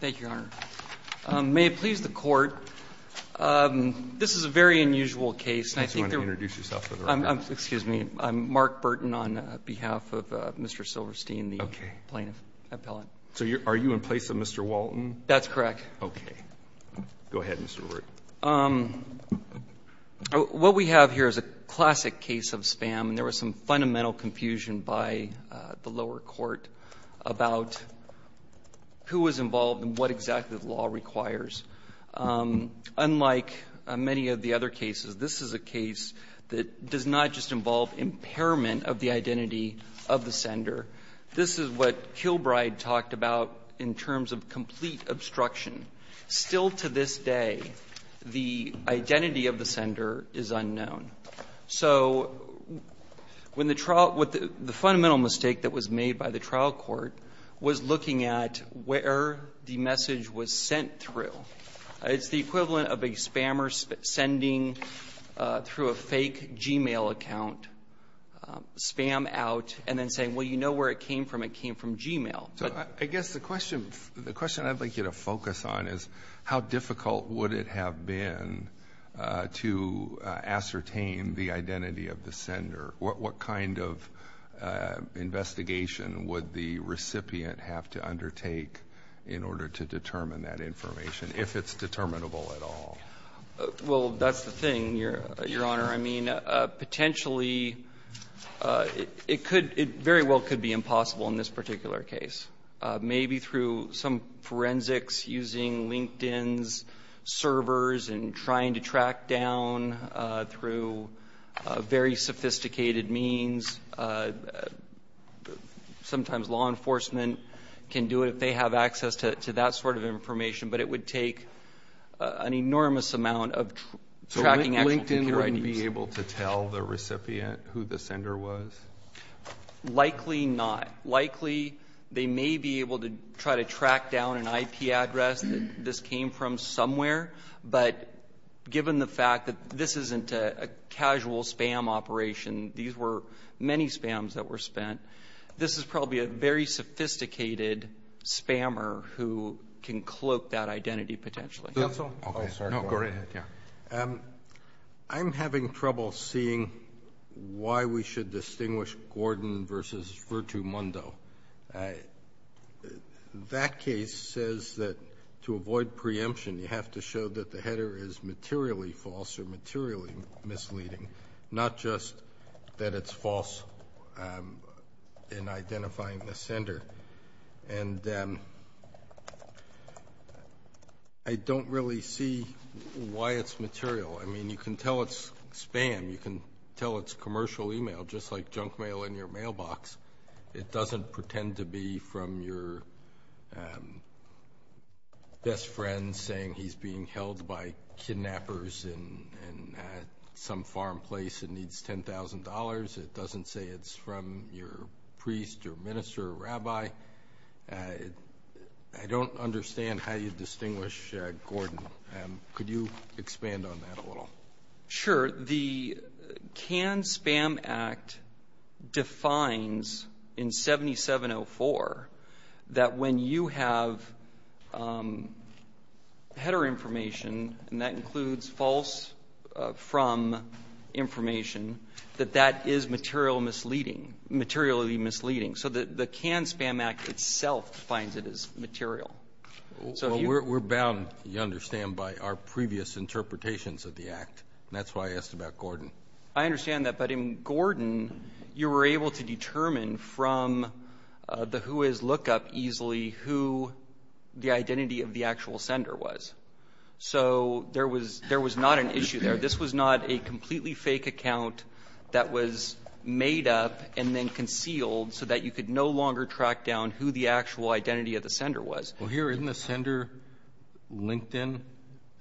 Thank you, Your Honor. May it please the Court, this is a very unusual case, and I think there are. I think you want to introduce yourself for the record. Excuse me. I'm Mark Burton on behalf of Mr. Silverstein, the plaintiff, appellant. So are you in place of Mr. Walton? That's correct. Okay. Go ahead, Mr. Ruebert. What we have here is a classic case of spam, and there was some fundamental confusion by the lower court about who was involved and what exactly the law requires. Unlike many of the other cases, this is a case that does not just involve impairment of the identity of the sender. This is what Kilbride talked about in terms of complete obstruction. Still to this day, the identity of the sender is unknown. So when the trial – the fundamental mistake that was made by the trial court was looking at where the message was sent through. It's the equivalent of a spammer sending through a fake Gmail account, spam out, and then saying, well, you know where it came from. It came from Gmail. So I guess the question – the question I'd like you to focus on is how difficult would it have been to ascertain the identity of the sender? What kind of investigation would the recipient have to undertake in order to determine that information, if it's determinable at all? Well, that's the thing, Your Honor. I mean, potentially it could – it very well could be impossible in this particular case. Maybe through some forensics using LinkedIn's servers and trying to track down through very sophisticated means. Sometimes law enforcement can do it if they have access to that sort of information. But it would take an enormous amount of tracking actual computer IDs. So LinkedIn wouldn't be able to tell the recipient who the sender was? Likely not. Likely they may be able to try to track down an IP address that this came from somewhere. But given the fact that this isn't a casual spam operation, these were many spams that were spent, this is probably a very sophisticated spammer who can cloak that identity potentially. Roberts. Roberts. Oh, sorry. Go right ahead. Yeah. I'm having trouble seeing why we should distinguish Gordon versus Virtu Mondo. That case says that to avoid preemption, you have to show that the header is materially false or materially misleading, not just that it's false in identifying the sender. And I don't really see why it's material. I mean, you can tell it's spam. You can tell it's commercial email, just like junk mail in your mailbox. It doesn't pretend to be from your best friend saying he's being held by kidnappers in some foreign place and needs $10,000. It doesn't say it's from your priest or minister or rabbi. I don't understand how you distinguish Gordon. Could you expand on that a little? Sure. The Can Spam Act defines in 7704 that when you have header information, and that includes false from information, that that is materially misleading. So the Can Spam Act itself defines it as material. So we're bound, you understand, by our previous interpretations of the act. That's why I asked about Gordon. I understand that. But in Gordon, you were able to determine from the who is look up easily who the identity of the actual sender was. So there was not an issue there. This was not a completely fake account that was made up and then concealed so that you could no longer track down who the actual identity of the sender was. Well, here, isn't the sender LinkedIn?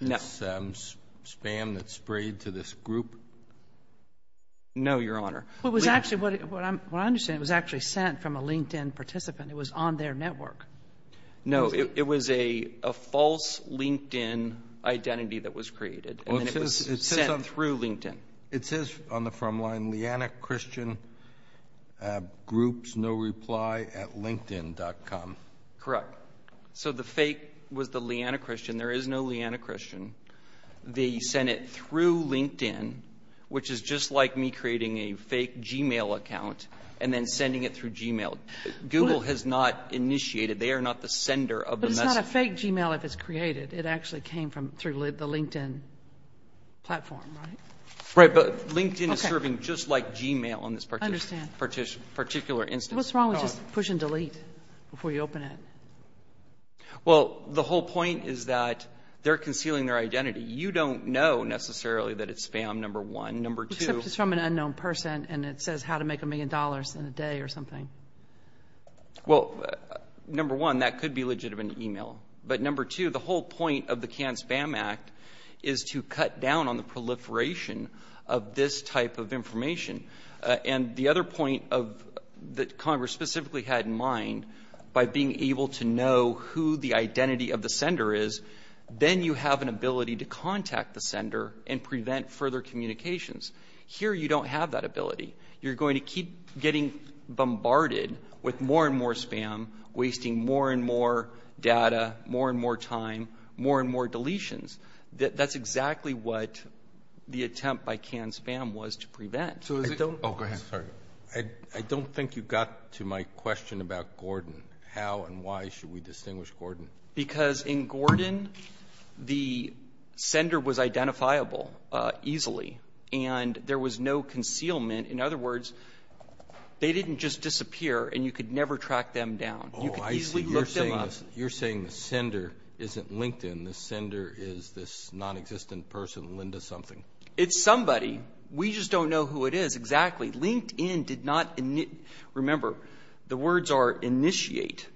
No. It's spam that's sprayed to this group? No, Your Honor. What was actually what I'm — what I understand, it was actually sent from a LinkedIn participant. It was on their network. No. It was a false LinkedIn identity that was created, and it was sent through LinkedIn. It says on the front line, lianachristiangroupsnoreplyatlinkedin.com. Correct. So the fake was the lianachristian. There is no lianachristian. They sent it through LinkedIn, which is just like me creating a fake Gmail account and then sending it through Gmail. Google has not initiated. They are not the sender of the message. But it's not a fake Gmail if it's created. It actually came from — through the LinkedIn platform, right? Right. But LinkedIn is serving just like Gmail on this particular instance. What's wrong with just push and delete before you open it? Well, the whole point is that they're concealing their identity. You don't know necessarily that it's spam, number one. Number two — Except it's from an unknown person, and it says how to make a million dollars in a day or something. Well, number one, that could be legitimate email. But number two, the whole point of the Cannes Spam Act is to cut down on the proliferation of this type of information. And the other point of — that Congress specifically had in mind, by being able to know who the identity of the sender is, then you have an ability to contact the sender and prevent further communications. Here, you don't have that ability. You're going to keep getting bombarded with more and more spam, wasting more and more data, more and more time, more and more deletions. That's exactly what the attempt by Cannes Spam was to prevent. So is it — Oh, go ahead. Sorry. I don't think you got to my question about Gordon. How and why should we distinguish Gordon? Because in Gordon, the sender was identifiable easily, and there was no concealment In other words, they didn't just disappear, and you could never track them down. You could easily look them up. Oh, I see. You're saying the sender isn't LinkedIn. The sender is this nonexistent person, Linda something. It's somebody. We just don't know who it is exactly. LinkedIn did not — remember, the words are initiate.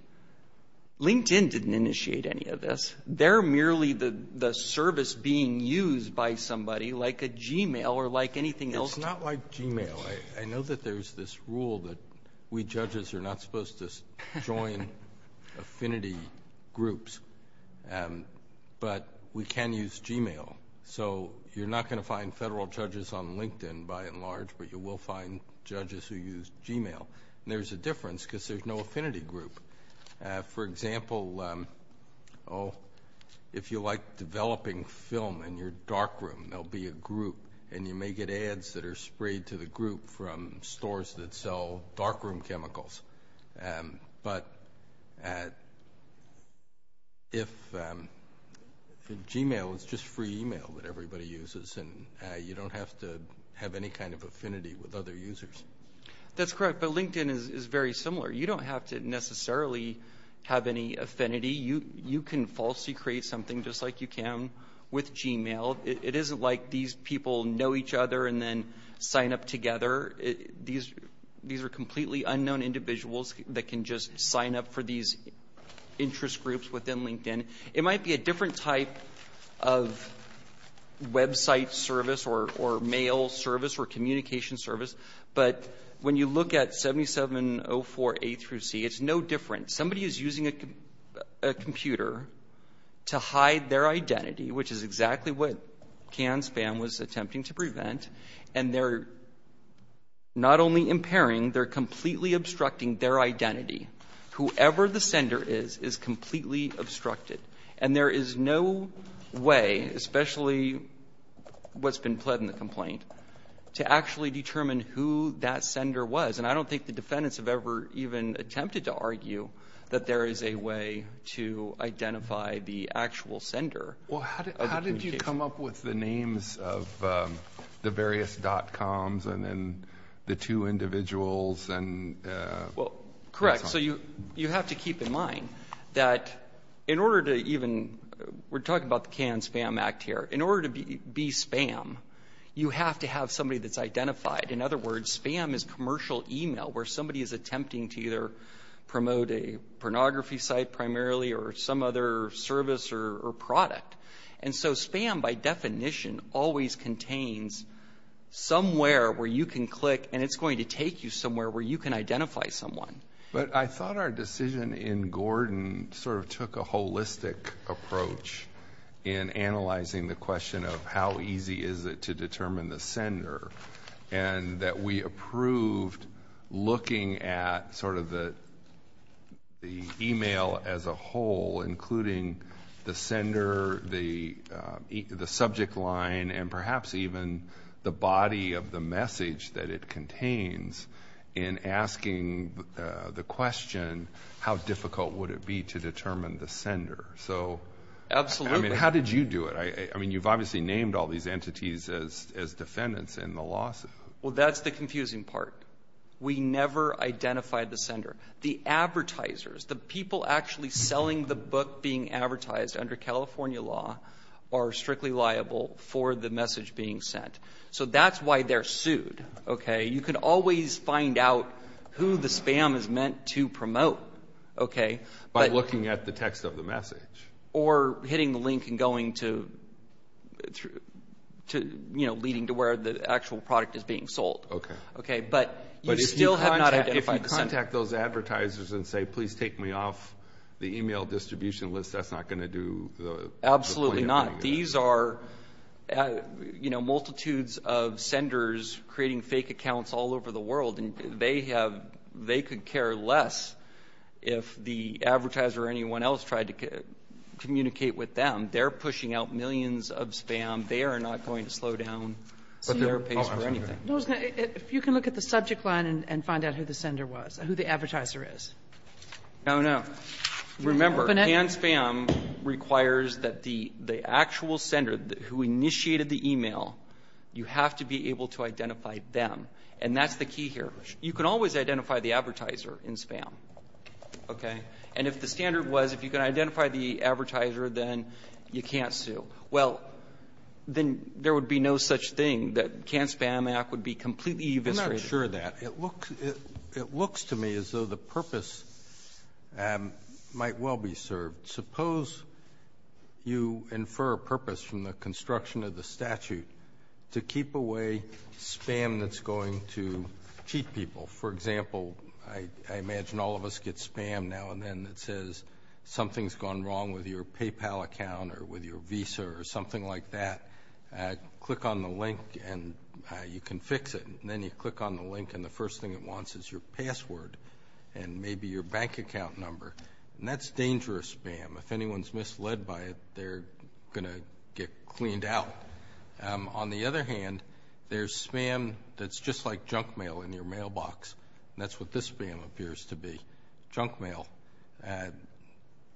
LinkedIn didn't initiate any of this. They're merely the service being used by somebody, like a Gmail or like anything else. Well, it's not like Gmail. I know that there's this rule that we judges are not supposed to join affinity groups, but we can use Gmail. So you're not going to find federal judges on LinkedIn, by and large, but you will find judges who use Gmail, and there's a difference because there's no affinity group. For example, oh, if you like developing film in your darkroom, there'll be a group, and you may get ads that are sprayed to the group from stores that sell darkroom chemicals. But if Gmail is just free email that everybody uses, and you don't have to have any kind of affinity with other users. That's correct, but LinkedIn is very similar. You don't have to necessarily have any affinity. You can falsely create something just like you can with Gmail. It isn't like these people know each other and then sign up together. These are completely unknown individuals that can just sign up for these interest groups within LinkedIn. It might be a different type of website service or mail service or communication service, but when you look at 7704A through C, it's no different. Somebody is using a computer to hide their identity, which is exactly what CAN-SPAM was attempting to prevent, and they're not only impairing, they're completely obstructing their identity. Whoever the sender is, is completely obstructed. And there is no way, especially what's been pled in the complaint, to actually determine who that sender was. And I don't think the defendants have ever even attempted to argue that there is a way to identify the actual sender. Alito, how did you come up with the names of the various dot-coms and then the two individuals and so on? Well, correct. So you have to keep in mind that in order to even we're talking about the CAN-SPAM Act here. In order to be spam, you have to have somebody that's identified. In other words, spam is commercial email where somebody is attempting to either promote a pornography site primarily or some other service or product. And so spam, by definition, always contains somewhere where you can click and it's going to take you somewhere where you can identify someone. But I thought our decision in Gordon sort of took a holistic approach in analyzing the sender and that we approved looking at sort of the email as a whole, including the sender, the subject line, and perhaps even the body of the message that it contains in asking the question, how difficult would it be to determine the sender? So how did you do it? I mean, you've obviously named all these entities as defendants in the lawsuit. Well, that's the confusing part. We never identified the sender. The advertisers, the people actually selling the book being advertised under California law are strictly liable for the message being sent. So that's why they're sued, okay? You can always find out who the spam is meant to promote, okay? By looking at the text of the message. Or hitting the link and going to, you know, leading to where the actual product is being sold. Okay. Okay, but you still have not identified the sender. But if you contact those advertisers and say, please take me off the email distribution list, that's not going to do the point of doing that. Absolutely not. These are, you know, multitudes of senders creating fake accounts all over the world. And they have they could care less if the advertiser or anyone else tried to communicate with them. They're pushing out millions of spam. They are not going to slow down their pace for anything. If you can look at the subject line and find out who the sender was, who the advertiser is. Oh, no. Remember, hand spam requires that the actual sender who initiated the email, you have to be able to identify them. And that's the key here. You can always identify the advertiser in spam. Okay? And if the standard was, if you can identify the advertiser, then you can't sue. Well, then there would be no such thing that Can't Spam Act would be completely eviscerated. It looks to me as though the purpose might well be served. Suppose you infer a purpose from the construction of the statute to keep away spam that's going to cheat people. For example, I imagine all of us get spam now and then that says something's gone wrong with your PayPal account or with your Visa or something like that. Click on the link and you can fix it. And then you click on the link and the first thing it wants is your password and maybe your bank account number. And that's dangerous spam. If anyone's misled by it, they're going to get cleaned out. On the other hand, there's spam that's just like junk mail in your mailbox. That's what this spam appears to be. Junk mail.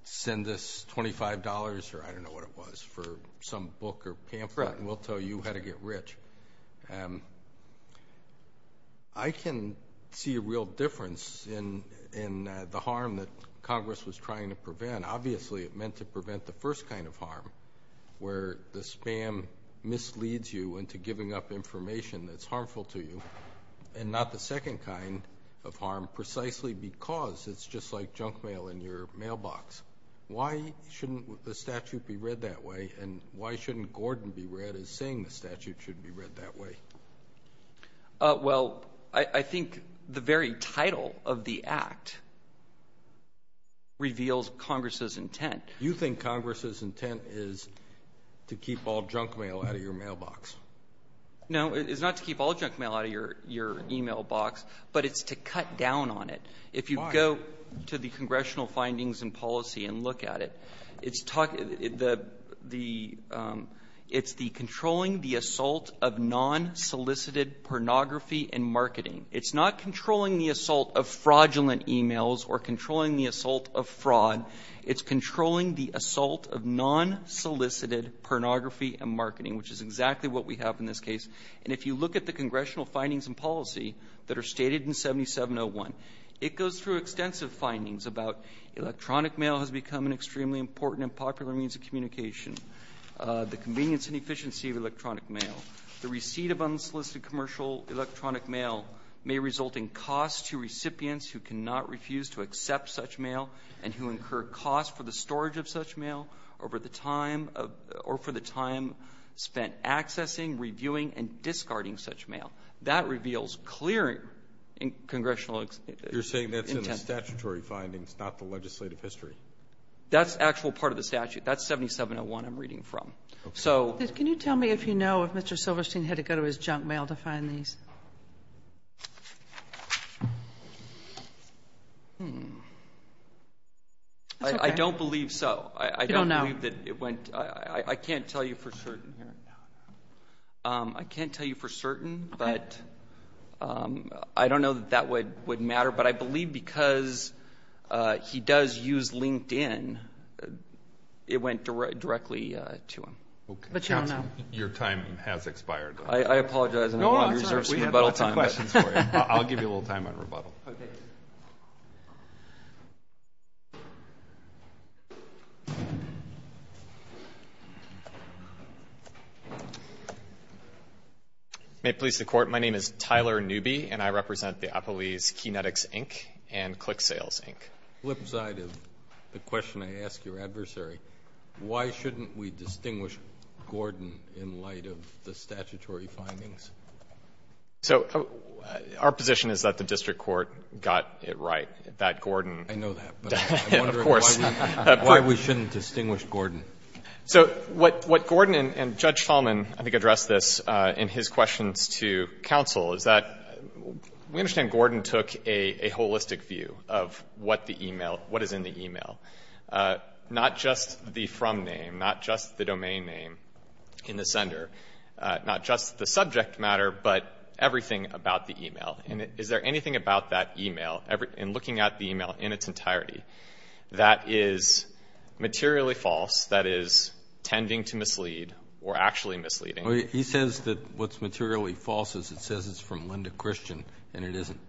Send us $25 or I don't know what it was for some book or pamphlet and we'll tell you how to get rich. I can see a real difference in the harm that Congress was trying to prevent. Obviously, it meant to prevent the first kind of harm where the spam misleads you into giving up information that's harmful to you. And not the second kind of harm precisely because it's just like junk mail in your mailbox. Why shouldn't the statute be read that way and why shouldn't Gordon be read as saying the statute should be read that way? Well, I think the very title of the act reveals Congress's intent. You think Congress's intent is to keep all junk mail out of your mailbox? No, it's not to keep all junk mail out of your email box, but it's to cut down on it. If you go to the Congressional findings and policy and look at it, it's the controlling the assault of non-solicited pornography and marketing. It's not controlling the assault of fraudulent emails or controlling the assault of fraud. It's controlling the assault of non-solicited pornography and marketing, which is exactly what we have in this case. And if you look at the Congressional findings and policy that are stated in 7701, it goes through extensive findings about electronic mail has become an extremely important and popular means of communication. The convenience and efficiency of electronic mail. The receipt of unsolicited commercial electronic mail may result in costs to recipients who cannot refuse to accept such mail and who incur cost for the storage of such mail over the time of or for the time spent accessing, reviewing, and discarding such mail. That reveals clear Congressional intent. You're saying that's in the statutory findings, not the legislative history? That's actual part of the statute. That's 7701 I'm reading from. So. Can you tell me if you know if Mr. Silverstein had to go to his junk mail to find these? I don't believe so. I don't believe that it went. I can't tell you for certain. I can't tell you for certain, but I don't know that that would matter. But I believe because he does use LinkedIn, it went directly to him. But you don't know. Your time has expired. I apologize. I'm going to reserve some rebuttal time. I'll give you a little time on rebuttal. May it please the Court, my name is Tyler Newby, and I represent the Applebee's Kinetics, Inc., and Click Sales, Inc. The flip side of the question I ask your adversary, why shouldn't we distinguish Gordon in light of the statutory findings? So our position is that the district court got it right, that Gordon. I know that, but I'm wondering why we shouldn't distinguish Gordon. So what Gordon and Judge Talman, I think, addressed this in his questions to counsel is that we understand Gordon took a holistic view of what the e-mail, what is in the e-mail, not just the from name, not just the domain name in the sender, not just the subject matter, but everything about the e-mail. And is there anything about that e-mail, in looking at the e-mail in its entirety, that is materially false, that is, tending to mislead or actually misleading? He says that what's materially false is it says it's from Linda Christian, and it isn't.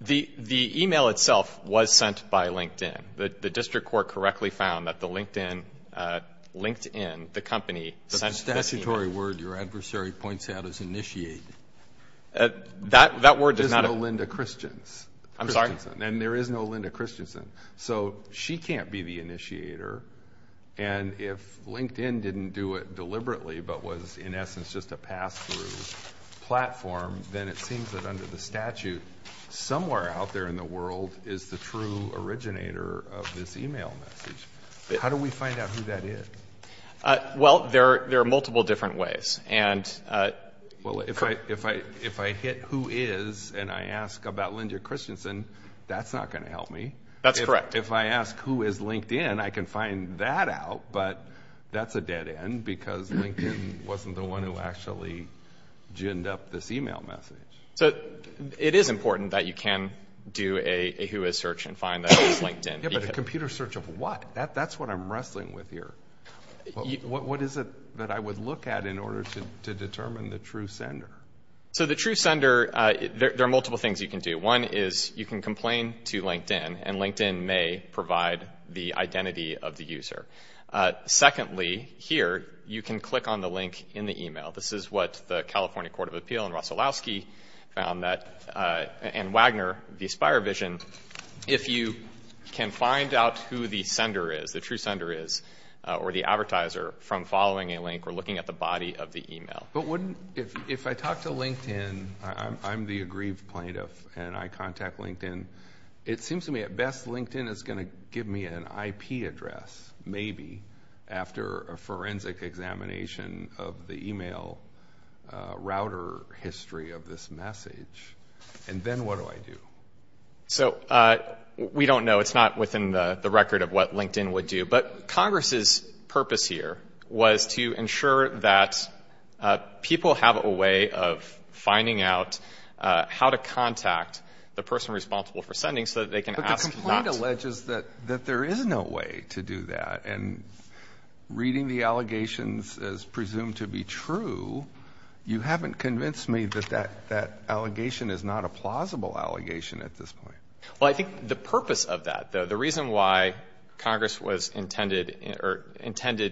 The e-mail itself was sent by LinkedIn. The district court correctly found that the LinkedIn, LinkedIn, the company, sent this e-mail. But the statutory word your adversary points out is initiate. That word does not appear. There's no Linda Christians. I'm sorry? And there is no Linda Christiansen. So she can't be the initiator. And if LinkedIn didn't do it deliberately, but was in essence just a pass-through platform, then it seems that under the statute, somewhere out there in the world is the true originator of this e-mail message. How do we find out who that is? Well, there are multiple different ways. And... Well, if I hit who is and I ask about Linda Christiansen, that's not going to help me. That's correct. If I ask who is LinkedIn, I can find that out, but that's a dead end because LinkedIn wasn't the one who actually ginned up this e-mail message. So it is important that you can do a who is search and find that it's LinkedIn. Yeah, but a computer search of what? That's what I'm wrestling with here. What is it that I would look at in order to determine the true sender? So the true sender, there are multiple things you can do. One is you can complain to LinkedIn, and LinkedIn may provide the identity of the user. Secondly, here, you can click on the link in the e-mail. This is what the California Court of Appeal and Wagner, the AspireVision, if you can find out who the sender is, the true sender is, or the advertiser from following a link or looking at the body of the e-mail. But if I talk to LinkedIn, I'm the aggrieved plaintiff, and I contact LinkedIn, it seems to me at best LinkedIn is going to give me an IP address, maybe, after a forensic examination of the e-mail router history of this message. And then what do I do? So we don't know. It's not within the record of what LinkedIn would do. But Congress's purpose here was to ensure that people have a way of finding out how to contact the person responsible for sending so that they can ask not to. But the complaint alleges that there is no way to do that, and reading the allegations as presumed to be true, you haven't convinced me that that allegation is not a plausible allegation at this point. Well, I think the purpose of that, though, the reason why Congress was intended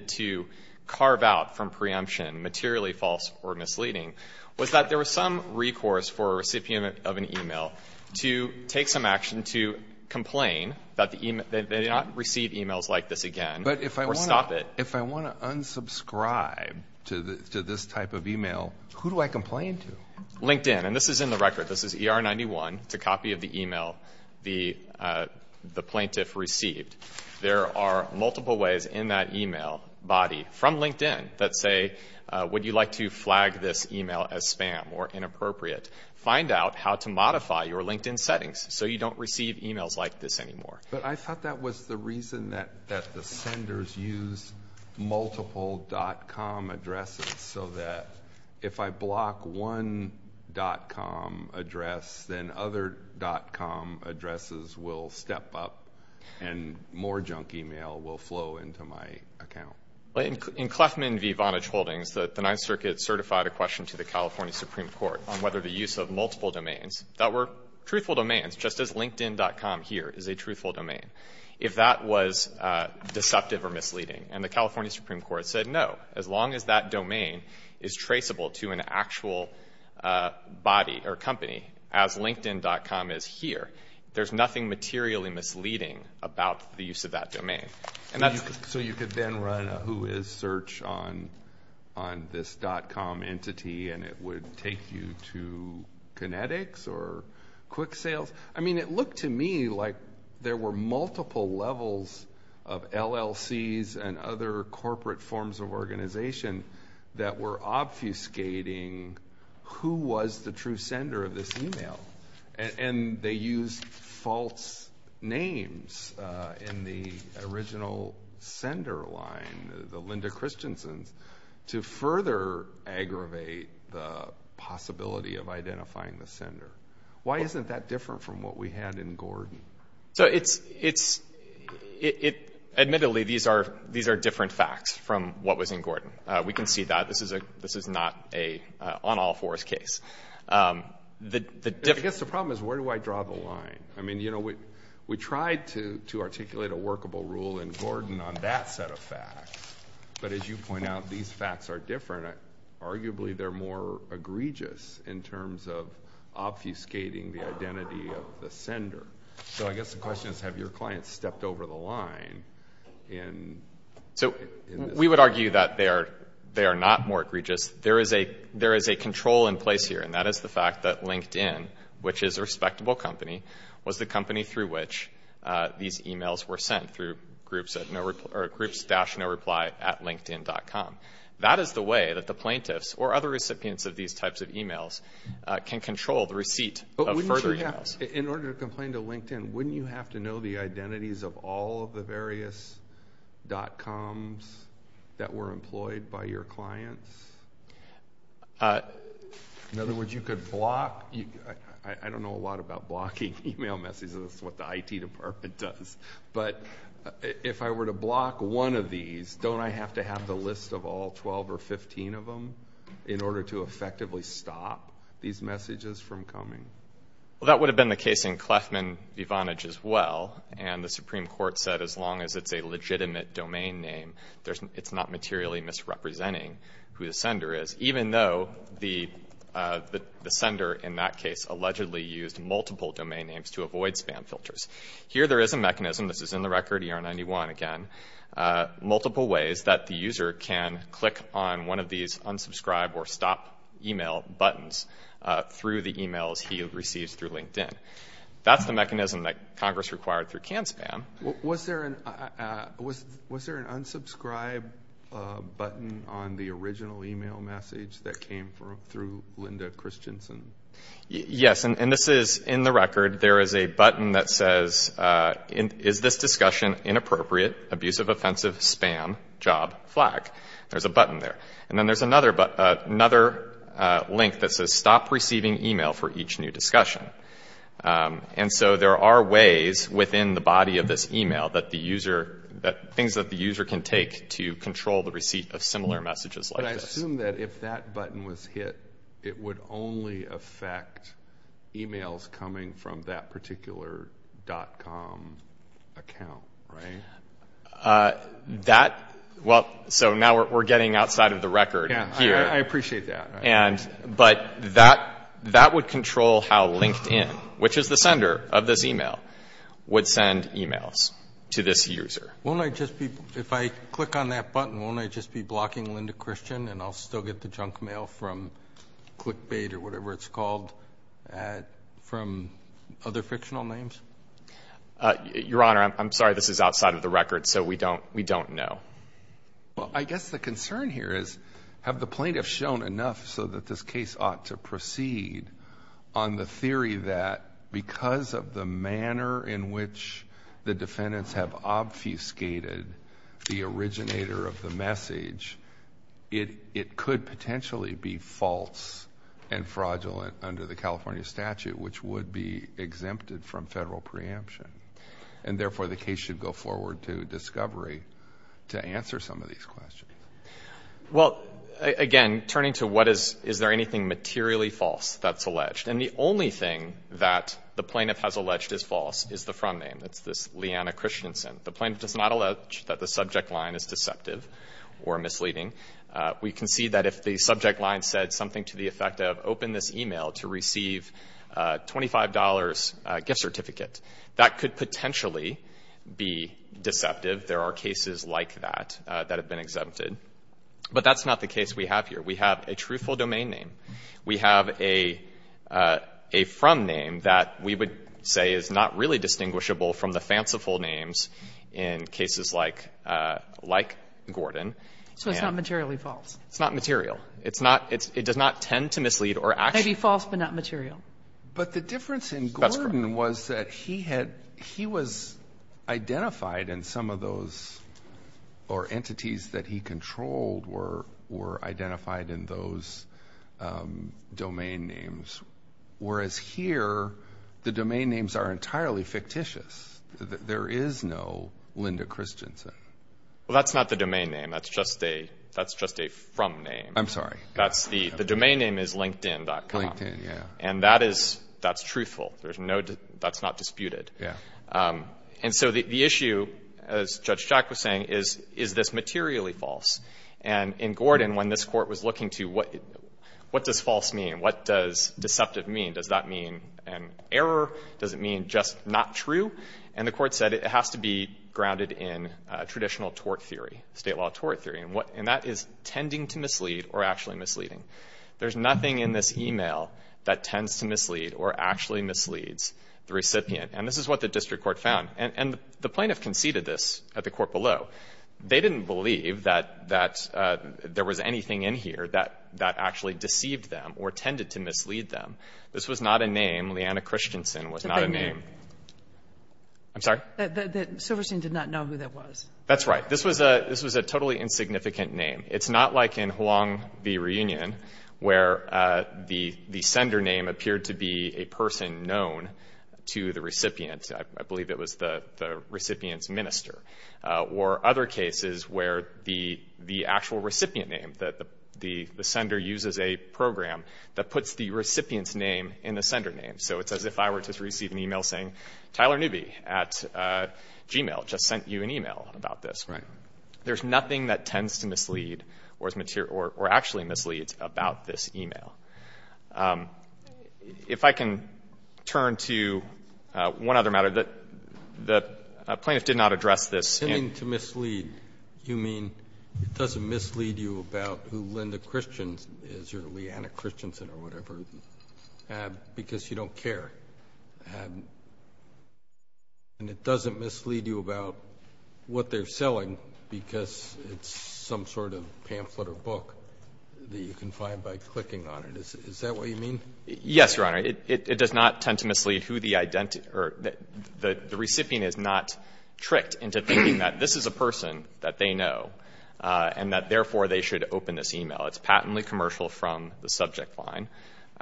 to carve out from preemption materially false or misleading was that there was some recourse for a recipient of an e-mail to take some action to complain that they did not receive e-mails like this again or stop it. But if I want to unsubscribe to this type of e-mail, who do I complain to? LinkedIn. And this is in the record. This is ER-91. It's a copy of the e-mail the plaintiff received. There are multiple ways in that e-mail body from LinkedIn that say, would you like to flag this e-mail as spam or inappropriate? Find out how to modify your LinkedIn settings so you don't receive e-mails like this anymore. But I thought that was the reason that the senders used multiple .com addresses so that if I block one .com address, then other .com addresses will step up and more junk e-mail will flow into my account. In Clefman v. Vonage Holdings, the Ninth Circuit certified a question to the California Supreme Court on whether the use of multiple domains that were truthful domains, just as LinkedIn.com here is a truthful domain, if that was deceptive or misleading. And the California Supreme Court said no. As long as that domain is traceable to an actual body or company, as LinkedIn.com is here, there's nothing materially misleading about the use of that domain. And that's... So you could then run a whois search on this .com entity and it would take you to Kinetics or Quicksales? I mean, it looked to me like there were multiple levels of LLCs and other corporate forms of organization that were obfuscating who was the true sender of this e-mail. And they used false names in the original sender line, the Linda Christensen's, to further aggravate the possibility of identifying the sender. Why isn't that different from what we had in Gordon? So it's, admittedly, these are different facts from what was in Gordon. We can see that. This is not an on-all-fours case. I guess the problem is, where do I draw the line? I mean, you know, we tried to articulate a workable rule in Gordon on that set of facts. But as you point out, these facts are different. Arguably, they're more egregious in terms of obfuscating the identity of the sender. So I guess the question is, have your clients stepped over the line in... So we would argue that they are not more egregious. There is a control in place here, and that is the fact that LinkedIn, which is a respectable company, was the company through which these e-mails were sent, through groups-noreply at LinkedIn.com. That is the way that the plaintiffs or other recipients of these types of e-mails can control the receipt of further e-mails. In order to complain to LinkedIn, wouldn't you have to know the identities of all of the various dot-coms that were employed by your clients? In other words, you could block... I don't know a lot about blocking e-mail messages. That's what the IT department does. But if I were to block one of these, don't I have to have the list of all 12 or 15 of them in order to effectively stop these messages from coming? Well, that would have been the case in Clefman v. Vonage as well. And the Supreme Court said, as long as it's a legitimate domain name, it's not materially misrepresenting who the sender is, even though the sender in that case allegedly used multiple domain names to avoid spam filters. Here there is a mechanism, this is in the record, ER-91 again, multiple ways that the user can click on one of these unsubscribe or stop e-mail buttons through the e-mails he receives through LinkedIn. That's the mechanism that Congress required through CanSpam. Was there an unsubscribe button on the original e-mail message that came through Linda Christensen? Yes, and this is in the record. There is a button that says, is this discussion inappropriate, abusive, offensive, spam, job, flag. There's a button there. And then there's another link that says, stop receiving e-mail for each new discussion. And so there are ways within the body of this e-mail that the user, things that the user can take to control the receipt of similar messages like this. But I assume that if that button was hit, it would only affect e-mails coming from that particular dot-com account, right? That, well, so now we're getting outside of the record here. Yeah, I appreciate that. And, but that, that would control how LinkedIn, which is the sender of this e-mail, would send e-mails to this user. Won't I just be, if I click on that button, won't I just be blocking Linda Christensen and I'll still get the junk mail from clickbait or whatever it's called from other fictional names? Your Honor, I'm sorry. This is outside of the record, so we don't, we don't know. Well, I guess the concern here is, have the plaintiffs shown enough so that this case ought to proceed on the theory that because of the manner in which the defendants have obfuscated the originator of the message, it, it could potentially be false and fraudulent under the California statute, which would be exempted from federal preemption, and therefore the case should go forward to discovery to answer some of these questions. Well, again, turning to what is, is there anything materially false that's alleged? And the only thing that the plaintiff has alleged is false is the front name. That's this Leanna Christensen. The plaintiff does not allege that the subject line is deceptive or misleading. We can see that if the subject line said something to the effect of, open this email to receive a $25 gift certificate, that could potentially be deceptive. There are cases like that that have been exempted. But that's not the case we have here. We have a truthful domain name. We have a, a from name that we would say is not really distinguishable from the fanciful names in cases like, like Gordon. So it's not materially false. It's not material. It's not, it does not tend to mislead or actually. Maybe false but not material. But the difference in Gordon was that he had, he was identified in some of those or entities that he controlled were, were identified in those domain names. Whereas here, the domain names are entirely fictitious. There is no Linda Christensen. Well, that's not the domain name. That's just a, that's just a from name. I'm sorry. That's the, the domain name is linkedin.com. Linkedin, yeah. And that is, that's truthful. There's no, that's not disputed. Yeah. And so the, the issue, as Judge Jack was saying, is, is this materially false? And in Gordon, when this Court was looking to what, what does false mean? What does deceptive mean? Does that mean an error? Does it mean just not true? And the Court said it has to be grounded in traditional tort theory, State law tort theory, and what, and that is tending to mislead or actually misleading. There's nothing in this e-mail that tends to mislead or actually misleads the recipient. And this is what the district court found. And, and the plaintiff conceded this at the court below. They didn't believe that, that there was anything in here that, that actually deceived them or tended to mislead them. This was not a name. Leanna Christensen was not a name. I'm sorry? The, the Silverstein did not know who that was. That's right. This was a, this was a totally insignificant name. It's not like in Huang v. Reunion, where the, the sender name appeared to be a person known to the recipient. I, I believe it was the, the recipient's minister. Or other cases where the, the actual recipient name, that the, the, the sender uses a program that puts the recipient's name in the sender name. So it's as if I were to receive an e-mail saying, Tyler Newby at Gmail just sent you an e-mail about this. Right. There's nothing that tends to mislead or is material or, or actually misleads about this e-mail. If I can turn to one other matter. The, the plaintiff did not address this in. You mean to mislead. You mean it doesn't mislead you about who Linda Christensen is or Leanna Christensen or whatever, because you don't care. And it doesn't mislead you about what they're selling because it's some sort of pamphlet or book that you can find by clicking on it. Is, is that what you mean? Yes, Your Honor. It, it, it does not tend to mislead who the identity or the, the recipient is not tricked into thinking that this is a person that they know and that therefore they should open this e-mail. It's patently commercial from the subject line,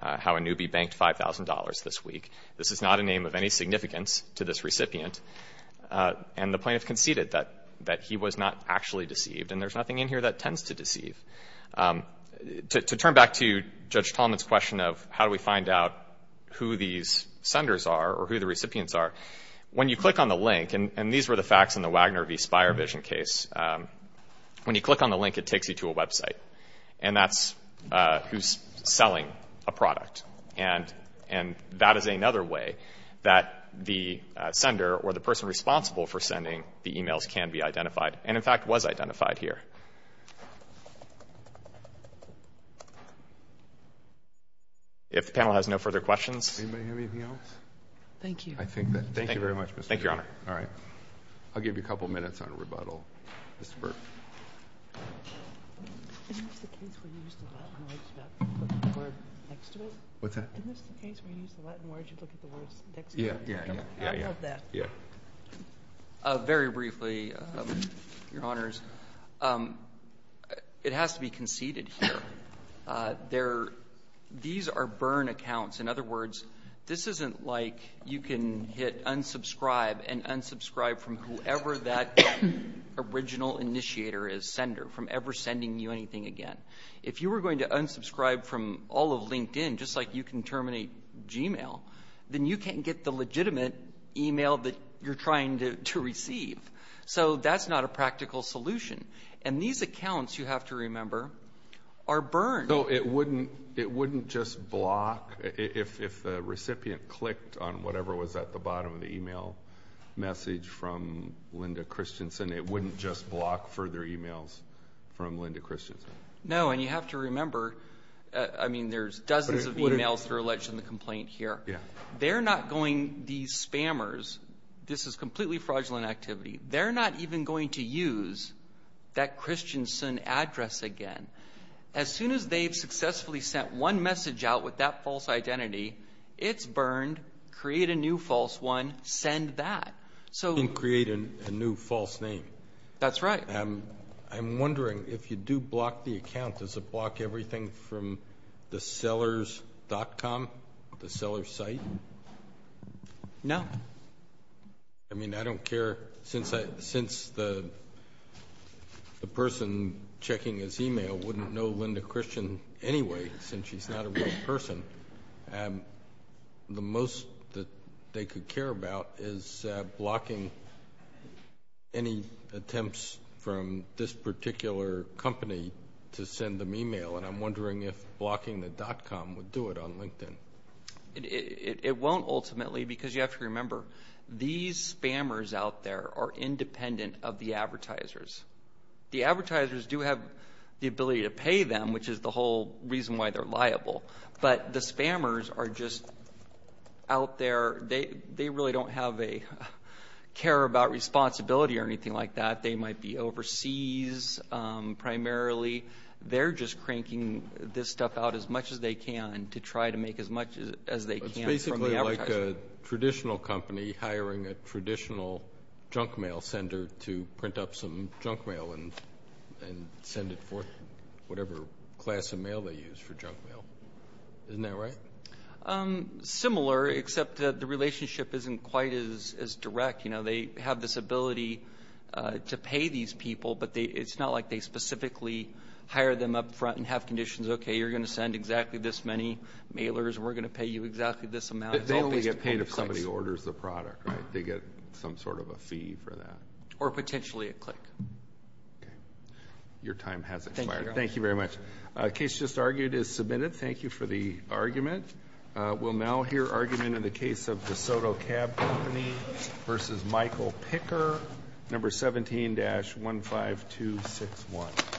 how a newbie banked $5,000 this week. This is not a name of any significance to this recipient. And the plaintiff conceded that, that he was not actually deceived. And there's nothing in here that tends to deceive. To, to turn back to Judge Tallman's question of how do we find out who these senders are or who the recipients are, when you click on the link, and, and these were the facts in the Wagner v. Spirevision case, when you click on the link, it takes you to a website. And that's who's selling a product. And, and that is another way that the sender or the person responsible for sending the e-mails can be identified and, in fact, was identified here. If the panel has no further questions. Anybody have anything else? Thank you. I think that, thank you very much, Mr. Burke. Thank you, Your Honor. All right. I'll give you a couple minutes on rebuttal, Mr. Burke. Isn't this the case where you use the Latin words, you don't put the word next to it? What's that? Isn't this the case where you use the Latin words, you put the word next to it? Yeah, yeah, yeah. I love that. Yeah. Very briefly, Your Honors, it has to be conceded here. There, these are burn accounts. In other words, this isn't like you can hit unsubscribe and unsubscribe from whoever that original initiator is, sender, from ever sending you anything again. If you were going to unsubscribe from all of LinkedIn, just like you can terminate Gmail, then you can't get the legitimate e-mail that you're trying to receive. So that's not a practical solution. And these accounts, you have to remember, are burned. So it wouldn't, it wouldn't just block if the recipient clicked on whatever was at the Linda Christensen, it wouldn't just block further e-mails from Linda Christensen. No, and you have to remember, I mean, there's dozens of e-mails that are alleged in the complaint here. They're not going, these spammers, this is completely fraudulent activity, they're not even going to use that Christensen address again. As soon as they've successfully sent one message out with that false identity, it's burned, create a new false one, send that. So. And create a new false name. That's right. I'm wondering, if you do block the account, does it block everything from the sellers.com, the seller site? No. I mean, I don't care, since the person checking his e-mail wouldn't know Linda Christian anyway, since she's not a real person. The most that they could care about is blocking any attempts from this particular company to send them e-mail, and I'm wondering if blocking the .com would do it on LinkedIn. It won't, ultimately, because you have to remember, these spammers out there are independent of the advertisers. The advertisers do have the ability to pay them, which is the whole reason why they're liable, but the spammers are just out there, they really don't have a care about responsibility or anything like that. They might be overseas, primarily. They're just cranking this stuff out as much as they can to try to make as much as they can from the advertiser. It's basically like a traditional company hiring a traditional junk mail sender to print up some junk mail and send it forth, whatever class of mail they use for junk mail. Isn't that right? Similar, except that the relationship isn't quite as direct. They have this ability to pay these people, but it's not like they specifically hire them up front and have conditions, okay, you're going to send exactly this many mailers, and we're going to pay you exactly this amount. They only get paid if somebody orders the product, right? They get some sort of a fee for that. Or potentially a click. Okay. Your time has expired. Thank you, Your Honor. Thank you very much. The case just argued is submitted. Thank you for the argument. We'll now hear argument in the case of DeSoto Cab Company versus Michael Picker, number 17-15261.